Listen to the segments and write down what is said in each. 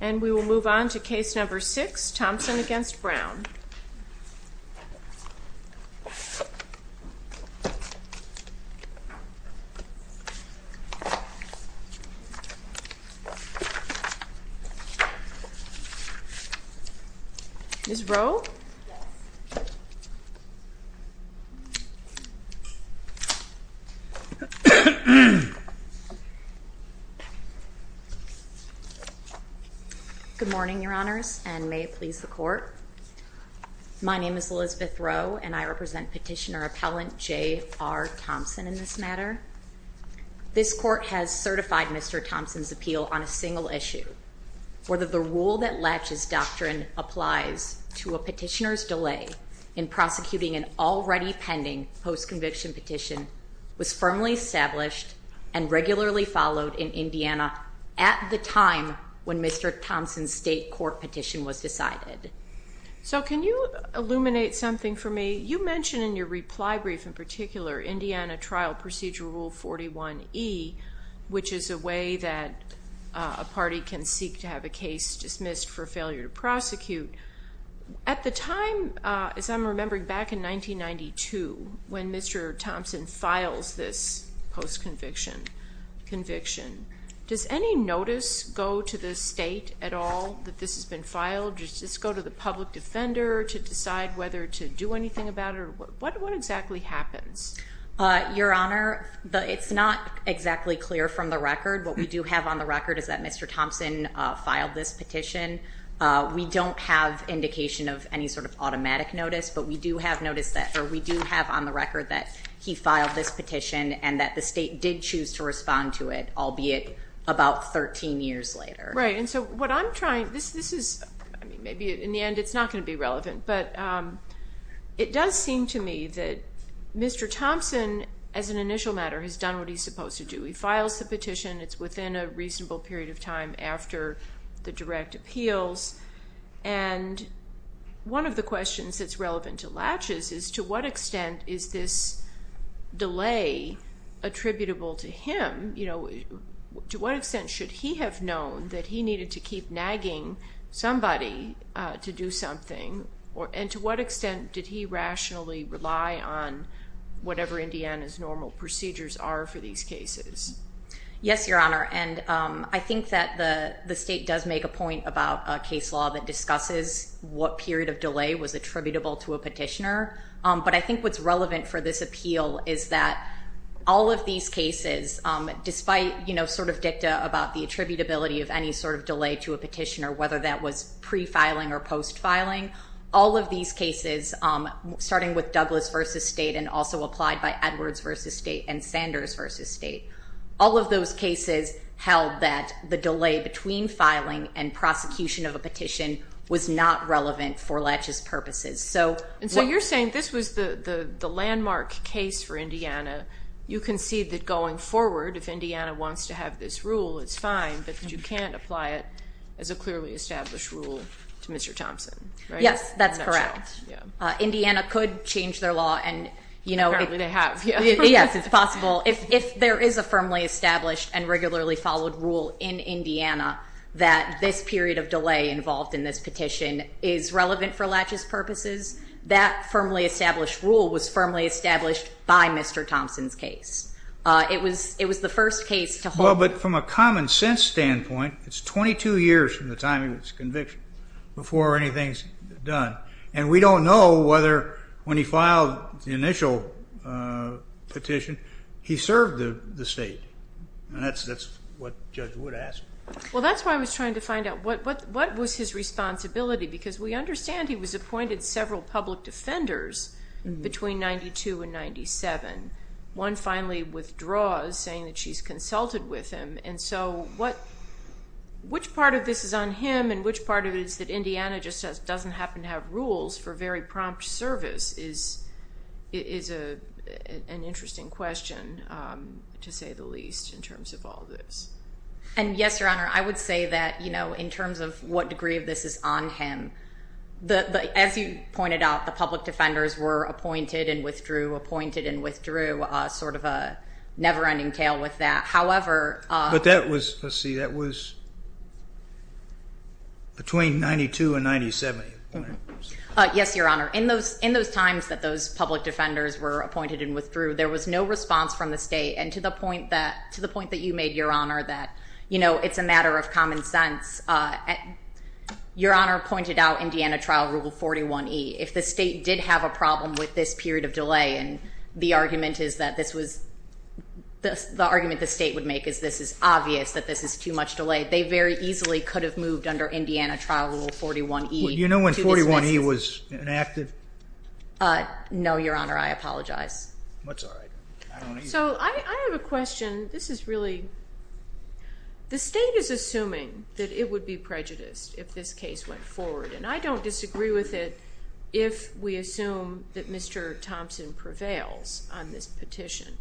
And we will move on to Case No. 6, Thompson v. Brown. Good morning, Your Honors, and may it please the Court. My name is Elizabeth Rowe, and I represent Petitioner-Appellant J. R. Thompson in this matter. This Court has certified Mr. Thompson's appeal on a single issue, where the rule that latches doctrine applies to a petitioner's delay in prosecuting an already pending post-conviction petition was firmly established and regularly followed in Indiana at the time when Mr. Thompson's state court petition was decided. So can you illuminate something for me? You mentioned in your reply brief, in particular, Indiana Trial Procedure Rule 41e, which is a way that a party can seek to have a case dismissed for failure to prosecute. At the time, as I'm remembering, back in 1992, when Mr. Thompson files this post-conviction conviction, does any notice go to the state at all that this has been filed? Does this go to the public defender to decide whether to do anything about it? What exactly happens? Your Honor, it's not exactly clear from the record. What we do have on the record is that Mr. Thompson filed this petition. We don't have indication of any sort of automatic notice, but we do have on the record that he filed this petition and that the state did choose to respond to it, albeit about 13 years later. Right, and so what I'm trying to do, maybe in the end it's not going to be relevant, but it does seem to me that Mr. Thompson, as an initial matter, has done what he's supposed to do. He files the petition. It's within a reasonable period of time after the direct appeals, and one of the questions that's relevant to Latches is to what extent is this delay attributable to him? To what extent should he have known that he needed to keep nagging somebody to do something, and to what extent did he rationally rely on whatever Indiana's normal procedures are for these cases? Yes, Your Honor, and I think that the state does make a point about a case law that discusses what period of delay was attributable to a petitioner, but I think what's relevant for this appeal is that all of these cases, despite sort of dicta about the attributability of any sort of delay to a petitioner, whether that was pre-filing or post-filing, all of these cases, starting with Douglas v. State and also applied by Edwards v. State and Sanders v. State, all of those cases held that the delay between filing and prosecution of a petition was not relevant for Latches' purposes. And so you're saying this was the landmark case for Indiana. You concede that going forward, if Indiana wants to have this rule, it's fine, but you can't apply it as a clearly established rule to Mr. Thompson, right? Yes, that's correct. Indiana could change their law and, you know, it's possible. If there is a firmly established and regularly followed rule in Indiana that this period of delay involved in this petition is relevant for Latches' purposes, that firmly established rule was firmly established by Mr. Thompson's case. It was the first case to hold. Well, but from a common sense standpoint, it's 22 years from the time of his conviction before anything is done, and we don't know whether when he filed the initial petition he served the state. And that's what Judge Wood asked. Well, that's why I was trying to find out what was his responsibility because we understand he was appointed several public defenders between 92 and 97, one finally withdraws saying that she's consulted with him. And so which part of this is on him and which part of it is that Indiana just doesn't happen to have rules for very prompt service is an interesting question, to say the least, in terms of all this. And, yes, Your Honor, I would say that, you know, in terms of what degree of this is on him, as you pointed out, the public defenders were appointed and withdrew, sort of a never-ending tale with that. However, But that was, let's see, that was between 92 and 97. Yes, Your Honor. In those times that those public defenders were appointed and withdrew, there was no response from the state, and to the point that you made, Your Honor, that, you know, it's a matter of common sense. Your Honor pointed out Indiana Trial Rule 41E. If the state did have a problem with this period of delay, and the argument is that this was, the argument the state would make is this is obvious, that this is too much delay, they very easily could have moved under Indiana Trial Rule 41E. Would you know when 41E was enacted? No, Your Honor, I apologize. That's all right. So I have a question. This is really, the state is assuming that it would be prejudiced if this case went forward, and I don't disagree with it if we assume that Mr. Thompson prevails on this petition.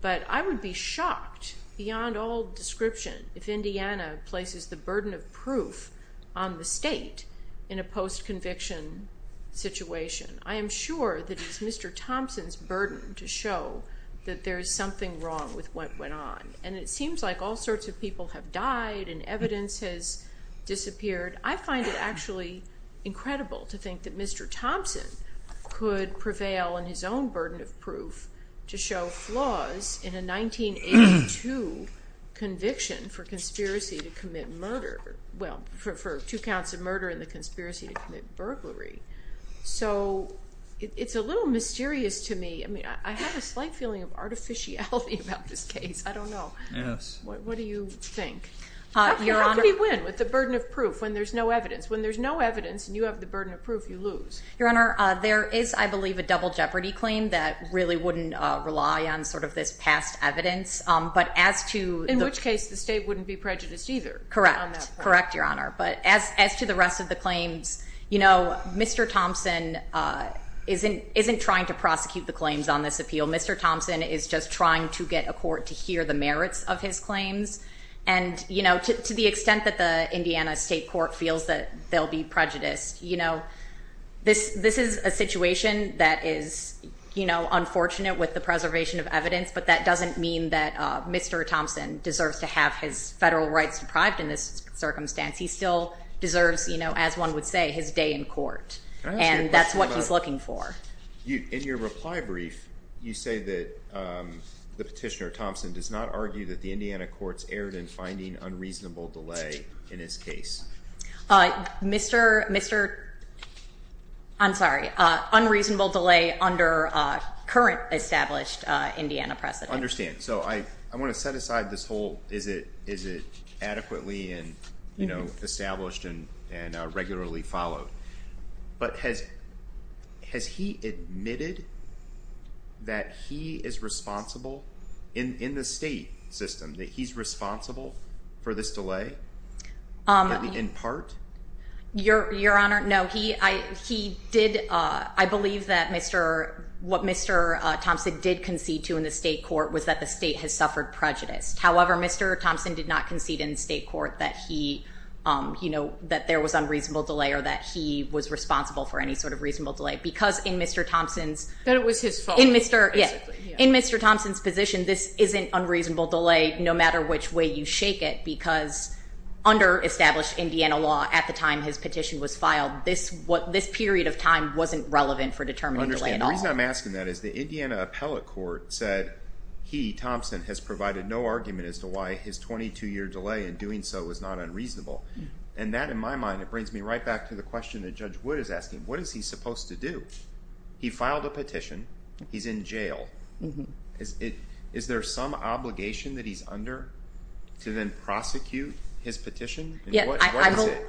But I would be shocked, beyond all description, if Indiana places the burden of proof on the state in a post-conviction situation. I am sure that it's Mr. Thompson's burden to show that there is something wrong with what went on, and it seems like all sorts of people have died and evidence has disappeared. I find it actually incredible to think that Mr. Thompson could prevail in his own burden of proof to show flaws in a 1982 conviction for conspiracy to commit murder, well, for two counts of murder in the conspiracy to commit burglary. So it's a little mysterious to me. I mean, I have a slight feeling of artificiality about this case. I don't know. Yes. What do you think? Your Honor. How can he win with the burden of proof when there's no evidence? When there's no evidence and you have the burden of proof, you lose. Your Honor, there is, I believe, a double jeopardy claim that really wouldn't rely on sort of this past evidence. But as to the- In which case, the state wouldn't be prejudiced either on that point. Correct. Correct, Your Honor. But as to the rest of the claims, you know, Mr. Thompson isn't trying to prosecute the claims on this appeal. Mr. Thompson is just trying to get a court to hear the merits of his claims. And, you know, to the extent that the Indiana State Court feels that they'll be prejudiced, you know, this is a situation that is, you know, unfortunate with the preservation of evidence. But that doesn't mean that Mr. Thompson deserves to have his federal rights deprived in this circumstance. He still deserves, you know, as one would say, his day in court. And that's what he's looking for. In your reply brief, you say that the petitioner, Thompson, does not argue that the Indiana courts erred in finding unreasonable delay in his case. Mr. I'm sorry, unreasonable delay under current established Indiana precedent. I understand. So I want to set aside this whole is it adequately and, you know, established and regularly followed. But has he admitted that he is responsible in the state system, that he's responsible for this delay in part? Your Honor, no, he did. I believe that Mr. What Mr. Thompson did concede to in the state court was that the state has suffered prejudice. However, Mr. Thompson did not concede in the state court that he, you know, that there was unreasonable delay or that he was responsible for any sort of reasonable delay. Because in Mr. Thompson's. That it was his fault. In Mr. Thompson's position, this isn't unreasonable delay no matter which way you shake it. Because under established Indiana law at the time his petition was filed, this period of time wasn't relevant for determining delay at all. The reason I'm asking that is the Indiana appellate court said he, Thompson, has provided no argument as to why his 22-year delay in doing so was not unreasonable. And that, in my mind, it brings me right back to the question that Judge Wood is asking. What is he supposed to do? He filed a petition. He's in jail. Is there some obligation that he's under to then prosecute his petition? What is it?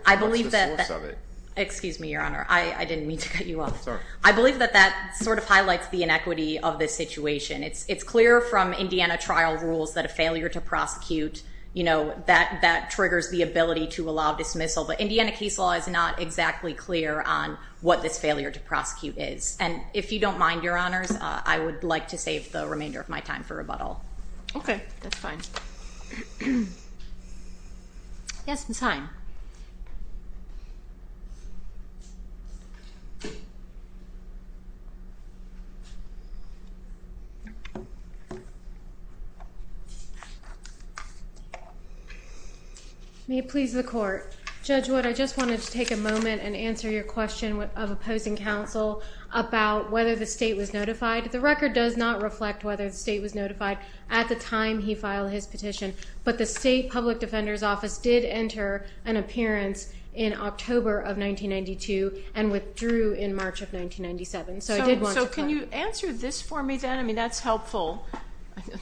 What's the source of it? Excuse me, Your Honor. I didn't mean to cut you off. I'm sorry. I believe that that sort of highlights the inequity of this situation. It's clear from Indiana trial rules that a failure to prosecute, you know, that triggers the ability to allow dismissal. But Indiana case law is not exactly clear on what this failure to prosecute is. And if you don't mind, Your Honors, I would like to save the remainder of my time for rebuttal. Okay. That's fine. Yes, Ms. Hine. May it please the Court. Judge Wood, I just wanted to take a moment and answer your question of opposing counsel about whether the state was notified. The record does not reflect whether the state was notified at the time he filed his petition. But the state public defender's office did enter an appearance in October of 1992 and withdrew in March of 1997. So I did want to clarify. So can you answer this for me then? I mean, that's helpful.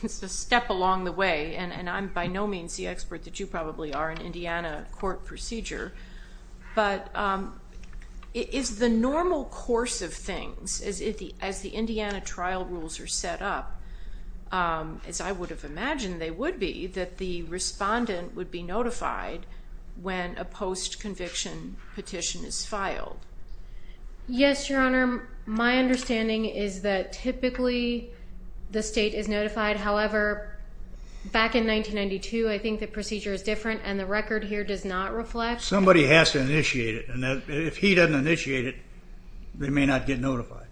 It's a step along the way. And I'm by no means the expert that you probably are in Indiana court procedure. But is the normal course of things, as the Indiana trial rules are set up, as I would have imagined they would be, that the respondent would be notified when a post-conviction petition is filed? Yes, Your Honor. My understanding is that typically the state is notified. However, back in 1992, I think the procedure is different, and the record here does not reflect. Somebody has to initiate it. And if he doesn't initiate it, they may not get notified.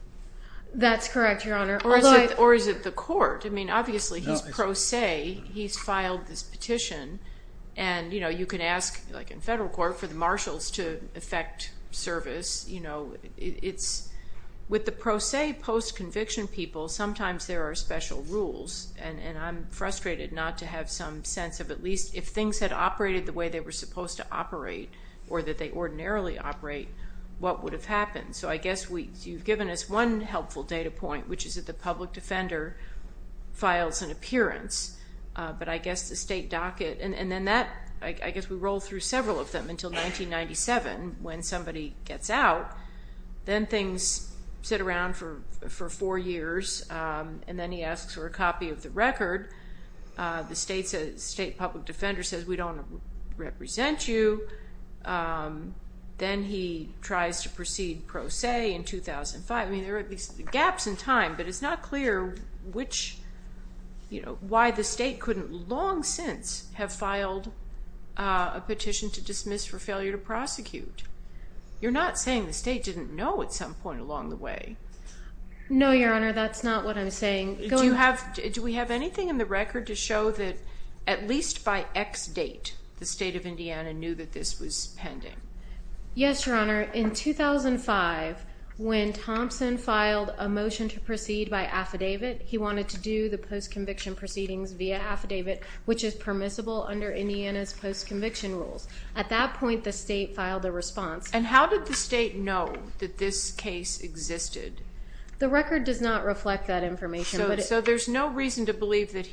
That's correct, Your Honor. Or is it the court? I mean, obviously he's pro se. He's filed this petition. And, you know, you can ask, like in federal court, for the marshals to effect service. You know, with the pro se post-conviction people, sometimes there are special rules. And I'm frustrated not to have some sense of at least, if things had operated the way they were supposed to operate or that they ordinarily operate, what would have happened? So I guess you've given us one helpful data point, which is that the public defender files an appearance. But I guess the state docket. And then that, I guess we roll through several of them until 1997, when somebody gets out. Then things sit around for four years. And then he asks for a copy of the record. The state public defender says, we don't represent you. Then he tries to proceed pro se in 2005. I mean, there are gaps in time, but it's not clear which, you know, why the state couldn't long since have filed a petition to dismiss for failure to prosecute. You're not saying the state didn't know at some point along the way. No, Your Honor, that's not what I'm saying. Do we have anything in the record to show that at least by X date, the state of Indiana knew that this was pending? Yes, Your Honor. In 2005, when Thompson filed a motion to proceed by affidavit, he wanted to do the postconviction proceedings via affidavit, which is permissible under Indiana's postconviction rules. At that point, the state filed a response. And how did the state know that this case existed? The record does not reflect that information. So there's no reason to believe that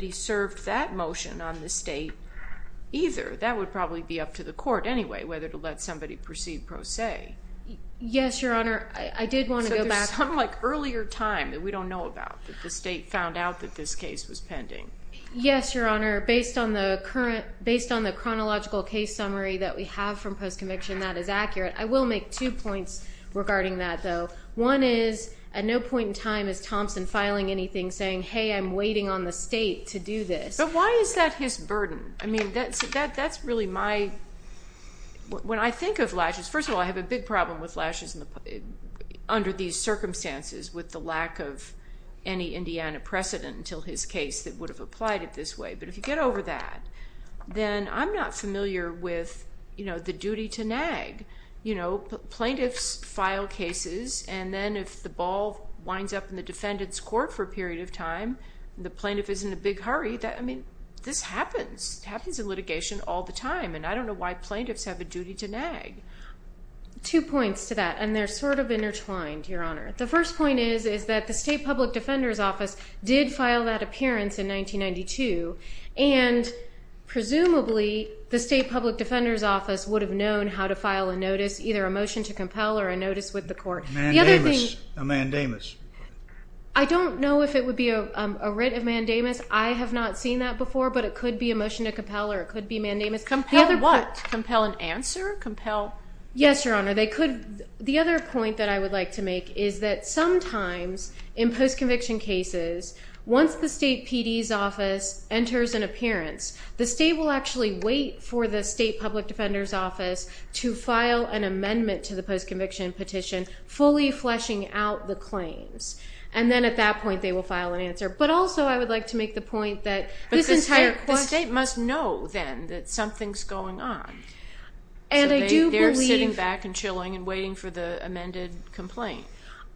he served that motion on the state either. That would probably be up to the court anyway, whether to let somebody proceed pro se. Yes, Your Honor. I did want to go back. So there's some, like, earlier time that we don't know about that the state found out that this case was pending. Yes, Your Honor. Based on the chronological case summary that we have from postconviction, that is accurate. I will make two points regarding that, though. One is at no point in time is Thompson filing anything saying, hey, I'm waiting on the state to do this. But why is that his burden? I mean, that's really my – when I think of lashes, first of all, I have a big problem with lashes under these circumstances with the lack of any Indiana precedent until his case that would have applied it this way. But if you get over that, then I'm not familiar with, you know, the duty to nag. You know, plaintiffs file cases, and then if the ball winds up in the defendant's court for a period of time, the plaintiff is in a big hurry. I mean, this happens. It happens in litigation all the time, and I don't know why plaintiffs have a duty to nag. Two points to that, and they're sort of intertwined, Your Honor. The first point is, is that the State Public Defender's Office did file that appearance in 1992, and presumably the State Public Defender's Office would have known how to file a notice, either a motion to compel or a notice with the court. Mandamus, a mandamus. I don't know if it would be a writ of mandamus. I have not seen that before, but it could be a motion to compel or it could be a mandamus. Compel what? Compel an answer? Yes, Your Honor. The other point that I would like to make is that sometimes in post-conviction cases, once the State PD's office enters an appearance, the state will actually wait for the State Public Defender's Office to file an amendment to the post-conviction petition, fully fleshing out the claims, and then at that point they will file an answer. But also I would like to make the point that this entire court. But the state must know then that something's going on. So they're sitting back and chilling and waiting for the amended complaint.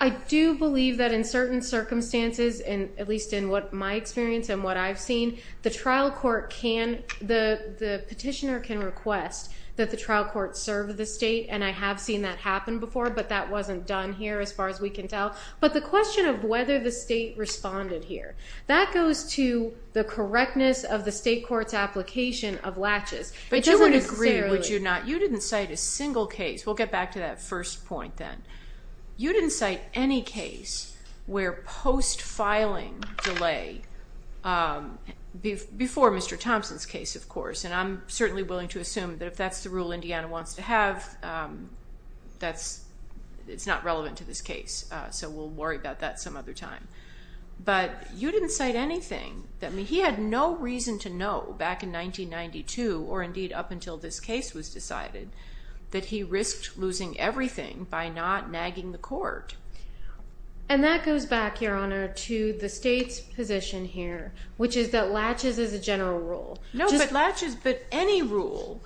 I do believe that in certain circumstances, at least in my experience and what I've seen, the trial court can, the petitioner can request that the trial court serve the state, and I have seen that happen before, but that wasn't done here as far as we can tell. But the question of whether the state responded here, that goes to the correctness of the state court's application of latches. But you would agree, would you not? It doesn't necessarily. You didn't cite a single case. We'll get back to that first point then. You didn't cite any case where post-filing delay, before Mr. Thompson's case, of course, and I'm certainly willing to assume that if that's the rule Indiana wants to have, it's not relevant to this case, so we'll worry about that some other time. But you didn't cite anything. He had no reason to know back in 1992, or indeed up until this case was decided, that he risked losing everything by not nagging the court. And that goes back, Your Honor, to the state's position here, which is that latches is a general rule. No, but latches, but any rule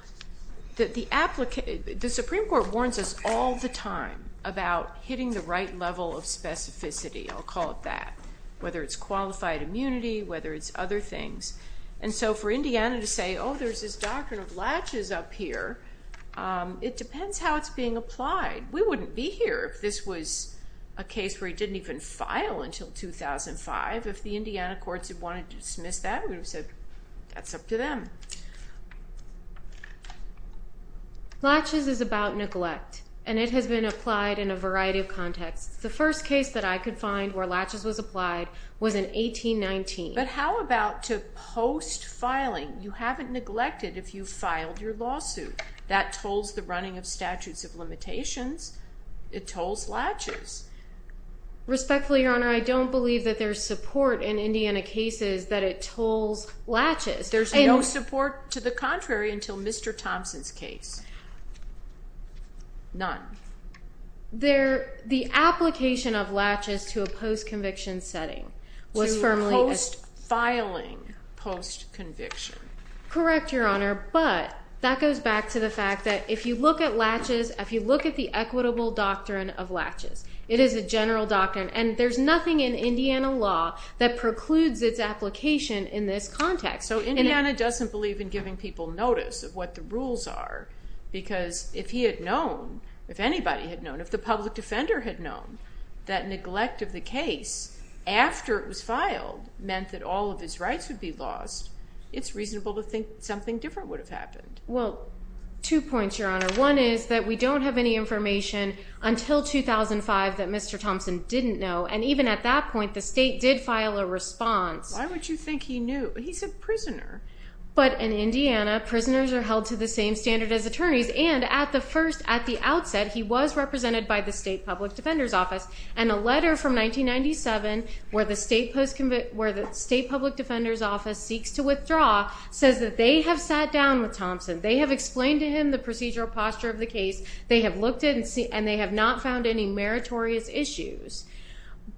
that the Supreme Court warns us all the time about hitting the right level of specificity, I'll call it that, whether it's qualified immunity, whether it's other things. And so for Indiana to say, oh, there's this doctrine of latches up here, it depends how it's being applied. We wouldn't be here if this was a case where he didn't even file until 2005. If the Indiana courts had wanted to dismiss that, we would have said, that's up to them. Latches is about neglect, and it has been applied in a variety of contexts. The first case that I could find where latches was applied was in 1819. But how about to post-filing? You haven't neglected if you filed your lawsuit. That tolls the running of statutes of limitations. It tolls latches. Respectfully, Your Honor, I don't believe that there's support in Indiana cases that it tolls latches. There's no support to the contrary until Mr. Thompson's case. None. The application of latches to a post-conviction setting was firmly established. To post-filing post-conviction. Correct, Your Honor, but that goes back to the fact that if you look at latches, if you look at the equitable doctrine of latches, it is a general doctrine, and there's nothing in Indiana law that precludes its application in this context. So Indiana doesn't believe in giving people notice of what the rules are, because if he had known, if anybody had known, if the public defender had known, that neglect of the case after it was filed meant that all of his rights would be lost, it's reasonable to think something different would have happened. Well, two points, Your Honor. One is that we don't have any information until 2005 that Mr. Thompson didn't know, and even at that point the state did file a response. Why would you think he knew? He's a prisoner. But in Indiana, prisoners are held to the same standard as attorneys, and at the first, at the outset, he was represented by the state public defender's office, and a letter from 1997 where the state public defender's office seeks to withdraw says that they have sat down with Thompson. They have explained to him the procedural posture of the case. They have looked at it, and they have not found any meritorious issues.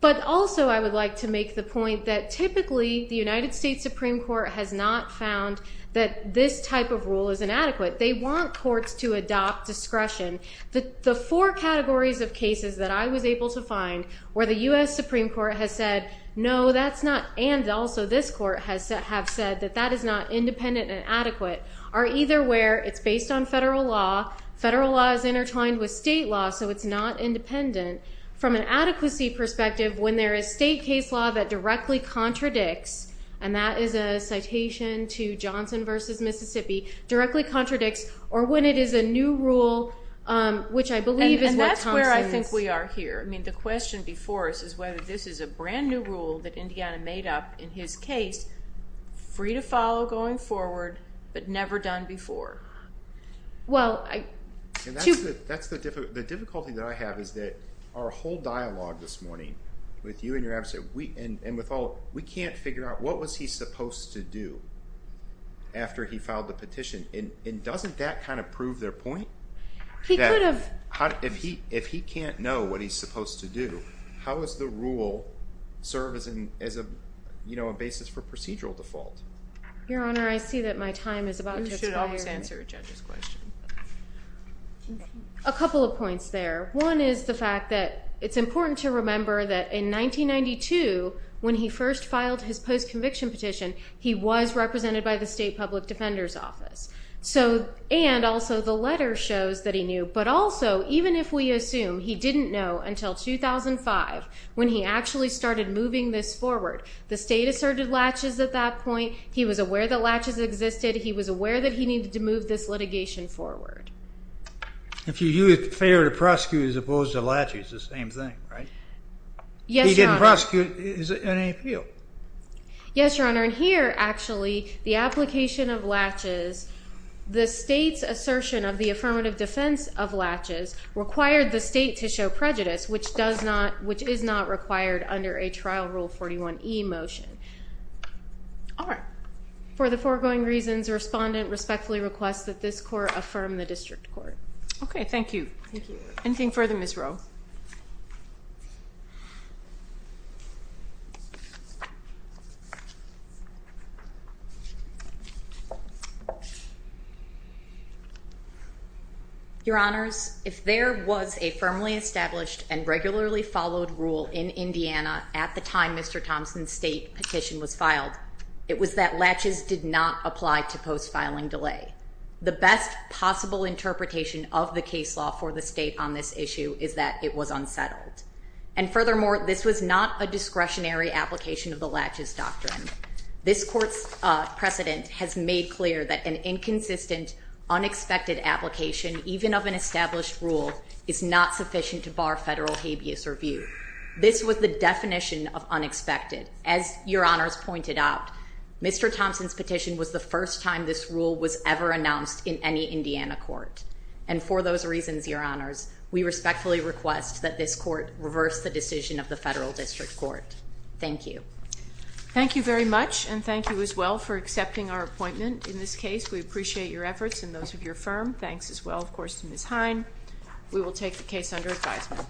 But also I would like to make the point that typically the United States Supreme Court has not found that this type of rule is inadequate. They want courts to adopt discretion. The four categories of cases that I was able to find where the U.S. Supreme Court has said, no, that's not, and also this court have said that that is not independent and adequate are either where it's based on federal law, federal law is intertwined with state law, so it's not independent. From an adequacy perspective, when there is state case law that directly contradicts, and that is a citation to Johnson v. Mississippi, directly contradicts, or when it is a new rule, which I believe is what Thompson is. And that's where I think we are here. I mean, the question before us is whether this is a brand new rule that Indiana made up in his case, free to follow going forward, but never done before. Well, I... And that's the difficulty that I have is that our whole dialogue this morning with you and with all, we can't figure out what was he supposed to do after he filed the petition, and doesn't that kind of prove their point? He could have. If he can't know what he's supposed to do, how does the rule serve as a basis for procedural default? Your Honor, I see that my time is about to expire. You should always answer a judge's question. A couple of points there. One is the fact that it's important to remember that in 1992, when he first filed his post-conviction petition, he was represented by the State Public Defender's Office, and also the letter shows that he knew. But also, even if we assume he didn't know until 2005 when he actually started moving this forward, the state asserted latches at that point. He was aware that latches existed. He was aware that he needed to move this litigation forward. If you use fair to prosecute as opposed to latches, it's the same thing, right? Yes, Your Honor. If he didn't prosecute, is it an appeal? Yes, Your Honor, and here, actually, the application of latches, the state's assertion of the affirmative defense of latches required the state to show prejudice, which is not required under a Trial Rule 41e motion. All right. For the foregoing reasons, the respondent respectfully requests that this court affirm the district court. Okay, thank you. Thank you. Anything further, Ms. Rowe? Your Honors, if there was a firmly established and regularly followed rule in Indiana at the time Mr. Thompson's state petitioned, it was that latches did not apply to post-filing delay. The best possible interpretation of the case law for the state on this issue is that it was unsettled, and furthermore, this was not a discretionary application of the latches doctrine. This court's precedent has made clear that an inconsistent, unexpected application, even of an established rule, is not sufficient to bar federal habeas review. This was the definition of unexpected. As Your Honors pointed out, Mr. Thompson's petition was the first time this rule was ever announced in any Indiana court, and for those reasons, Your Honors, we respectfully request that this court reverse the decision of the federal district court. Thank you. Thank you very much, and thank you as well for accepting our appointment in this case. We appreciate your efforts and those of your firm. Thanks as well, of course, to Ms. Hine. We will take the case under advisement.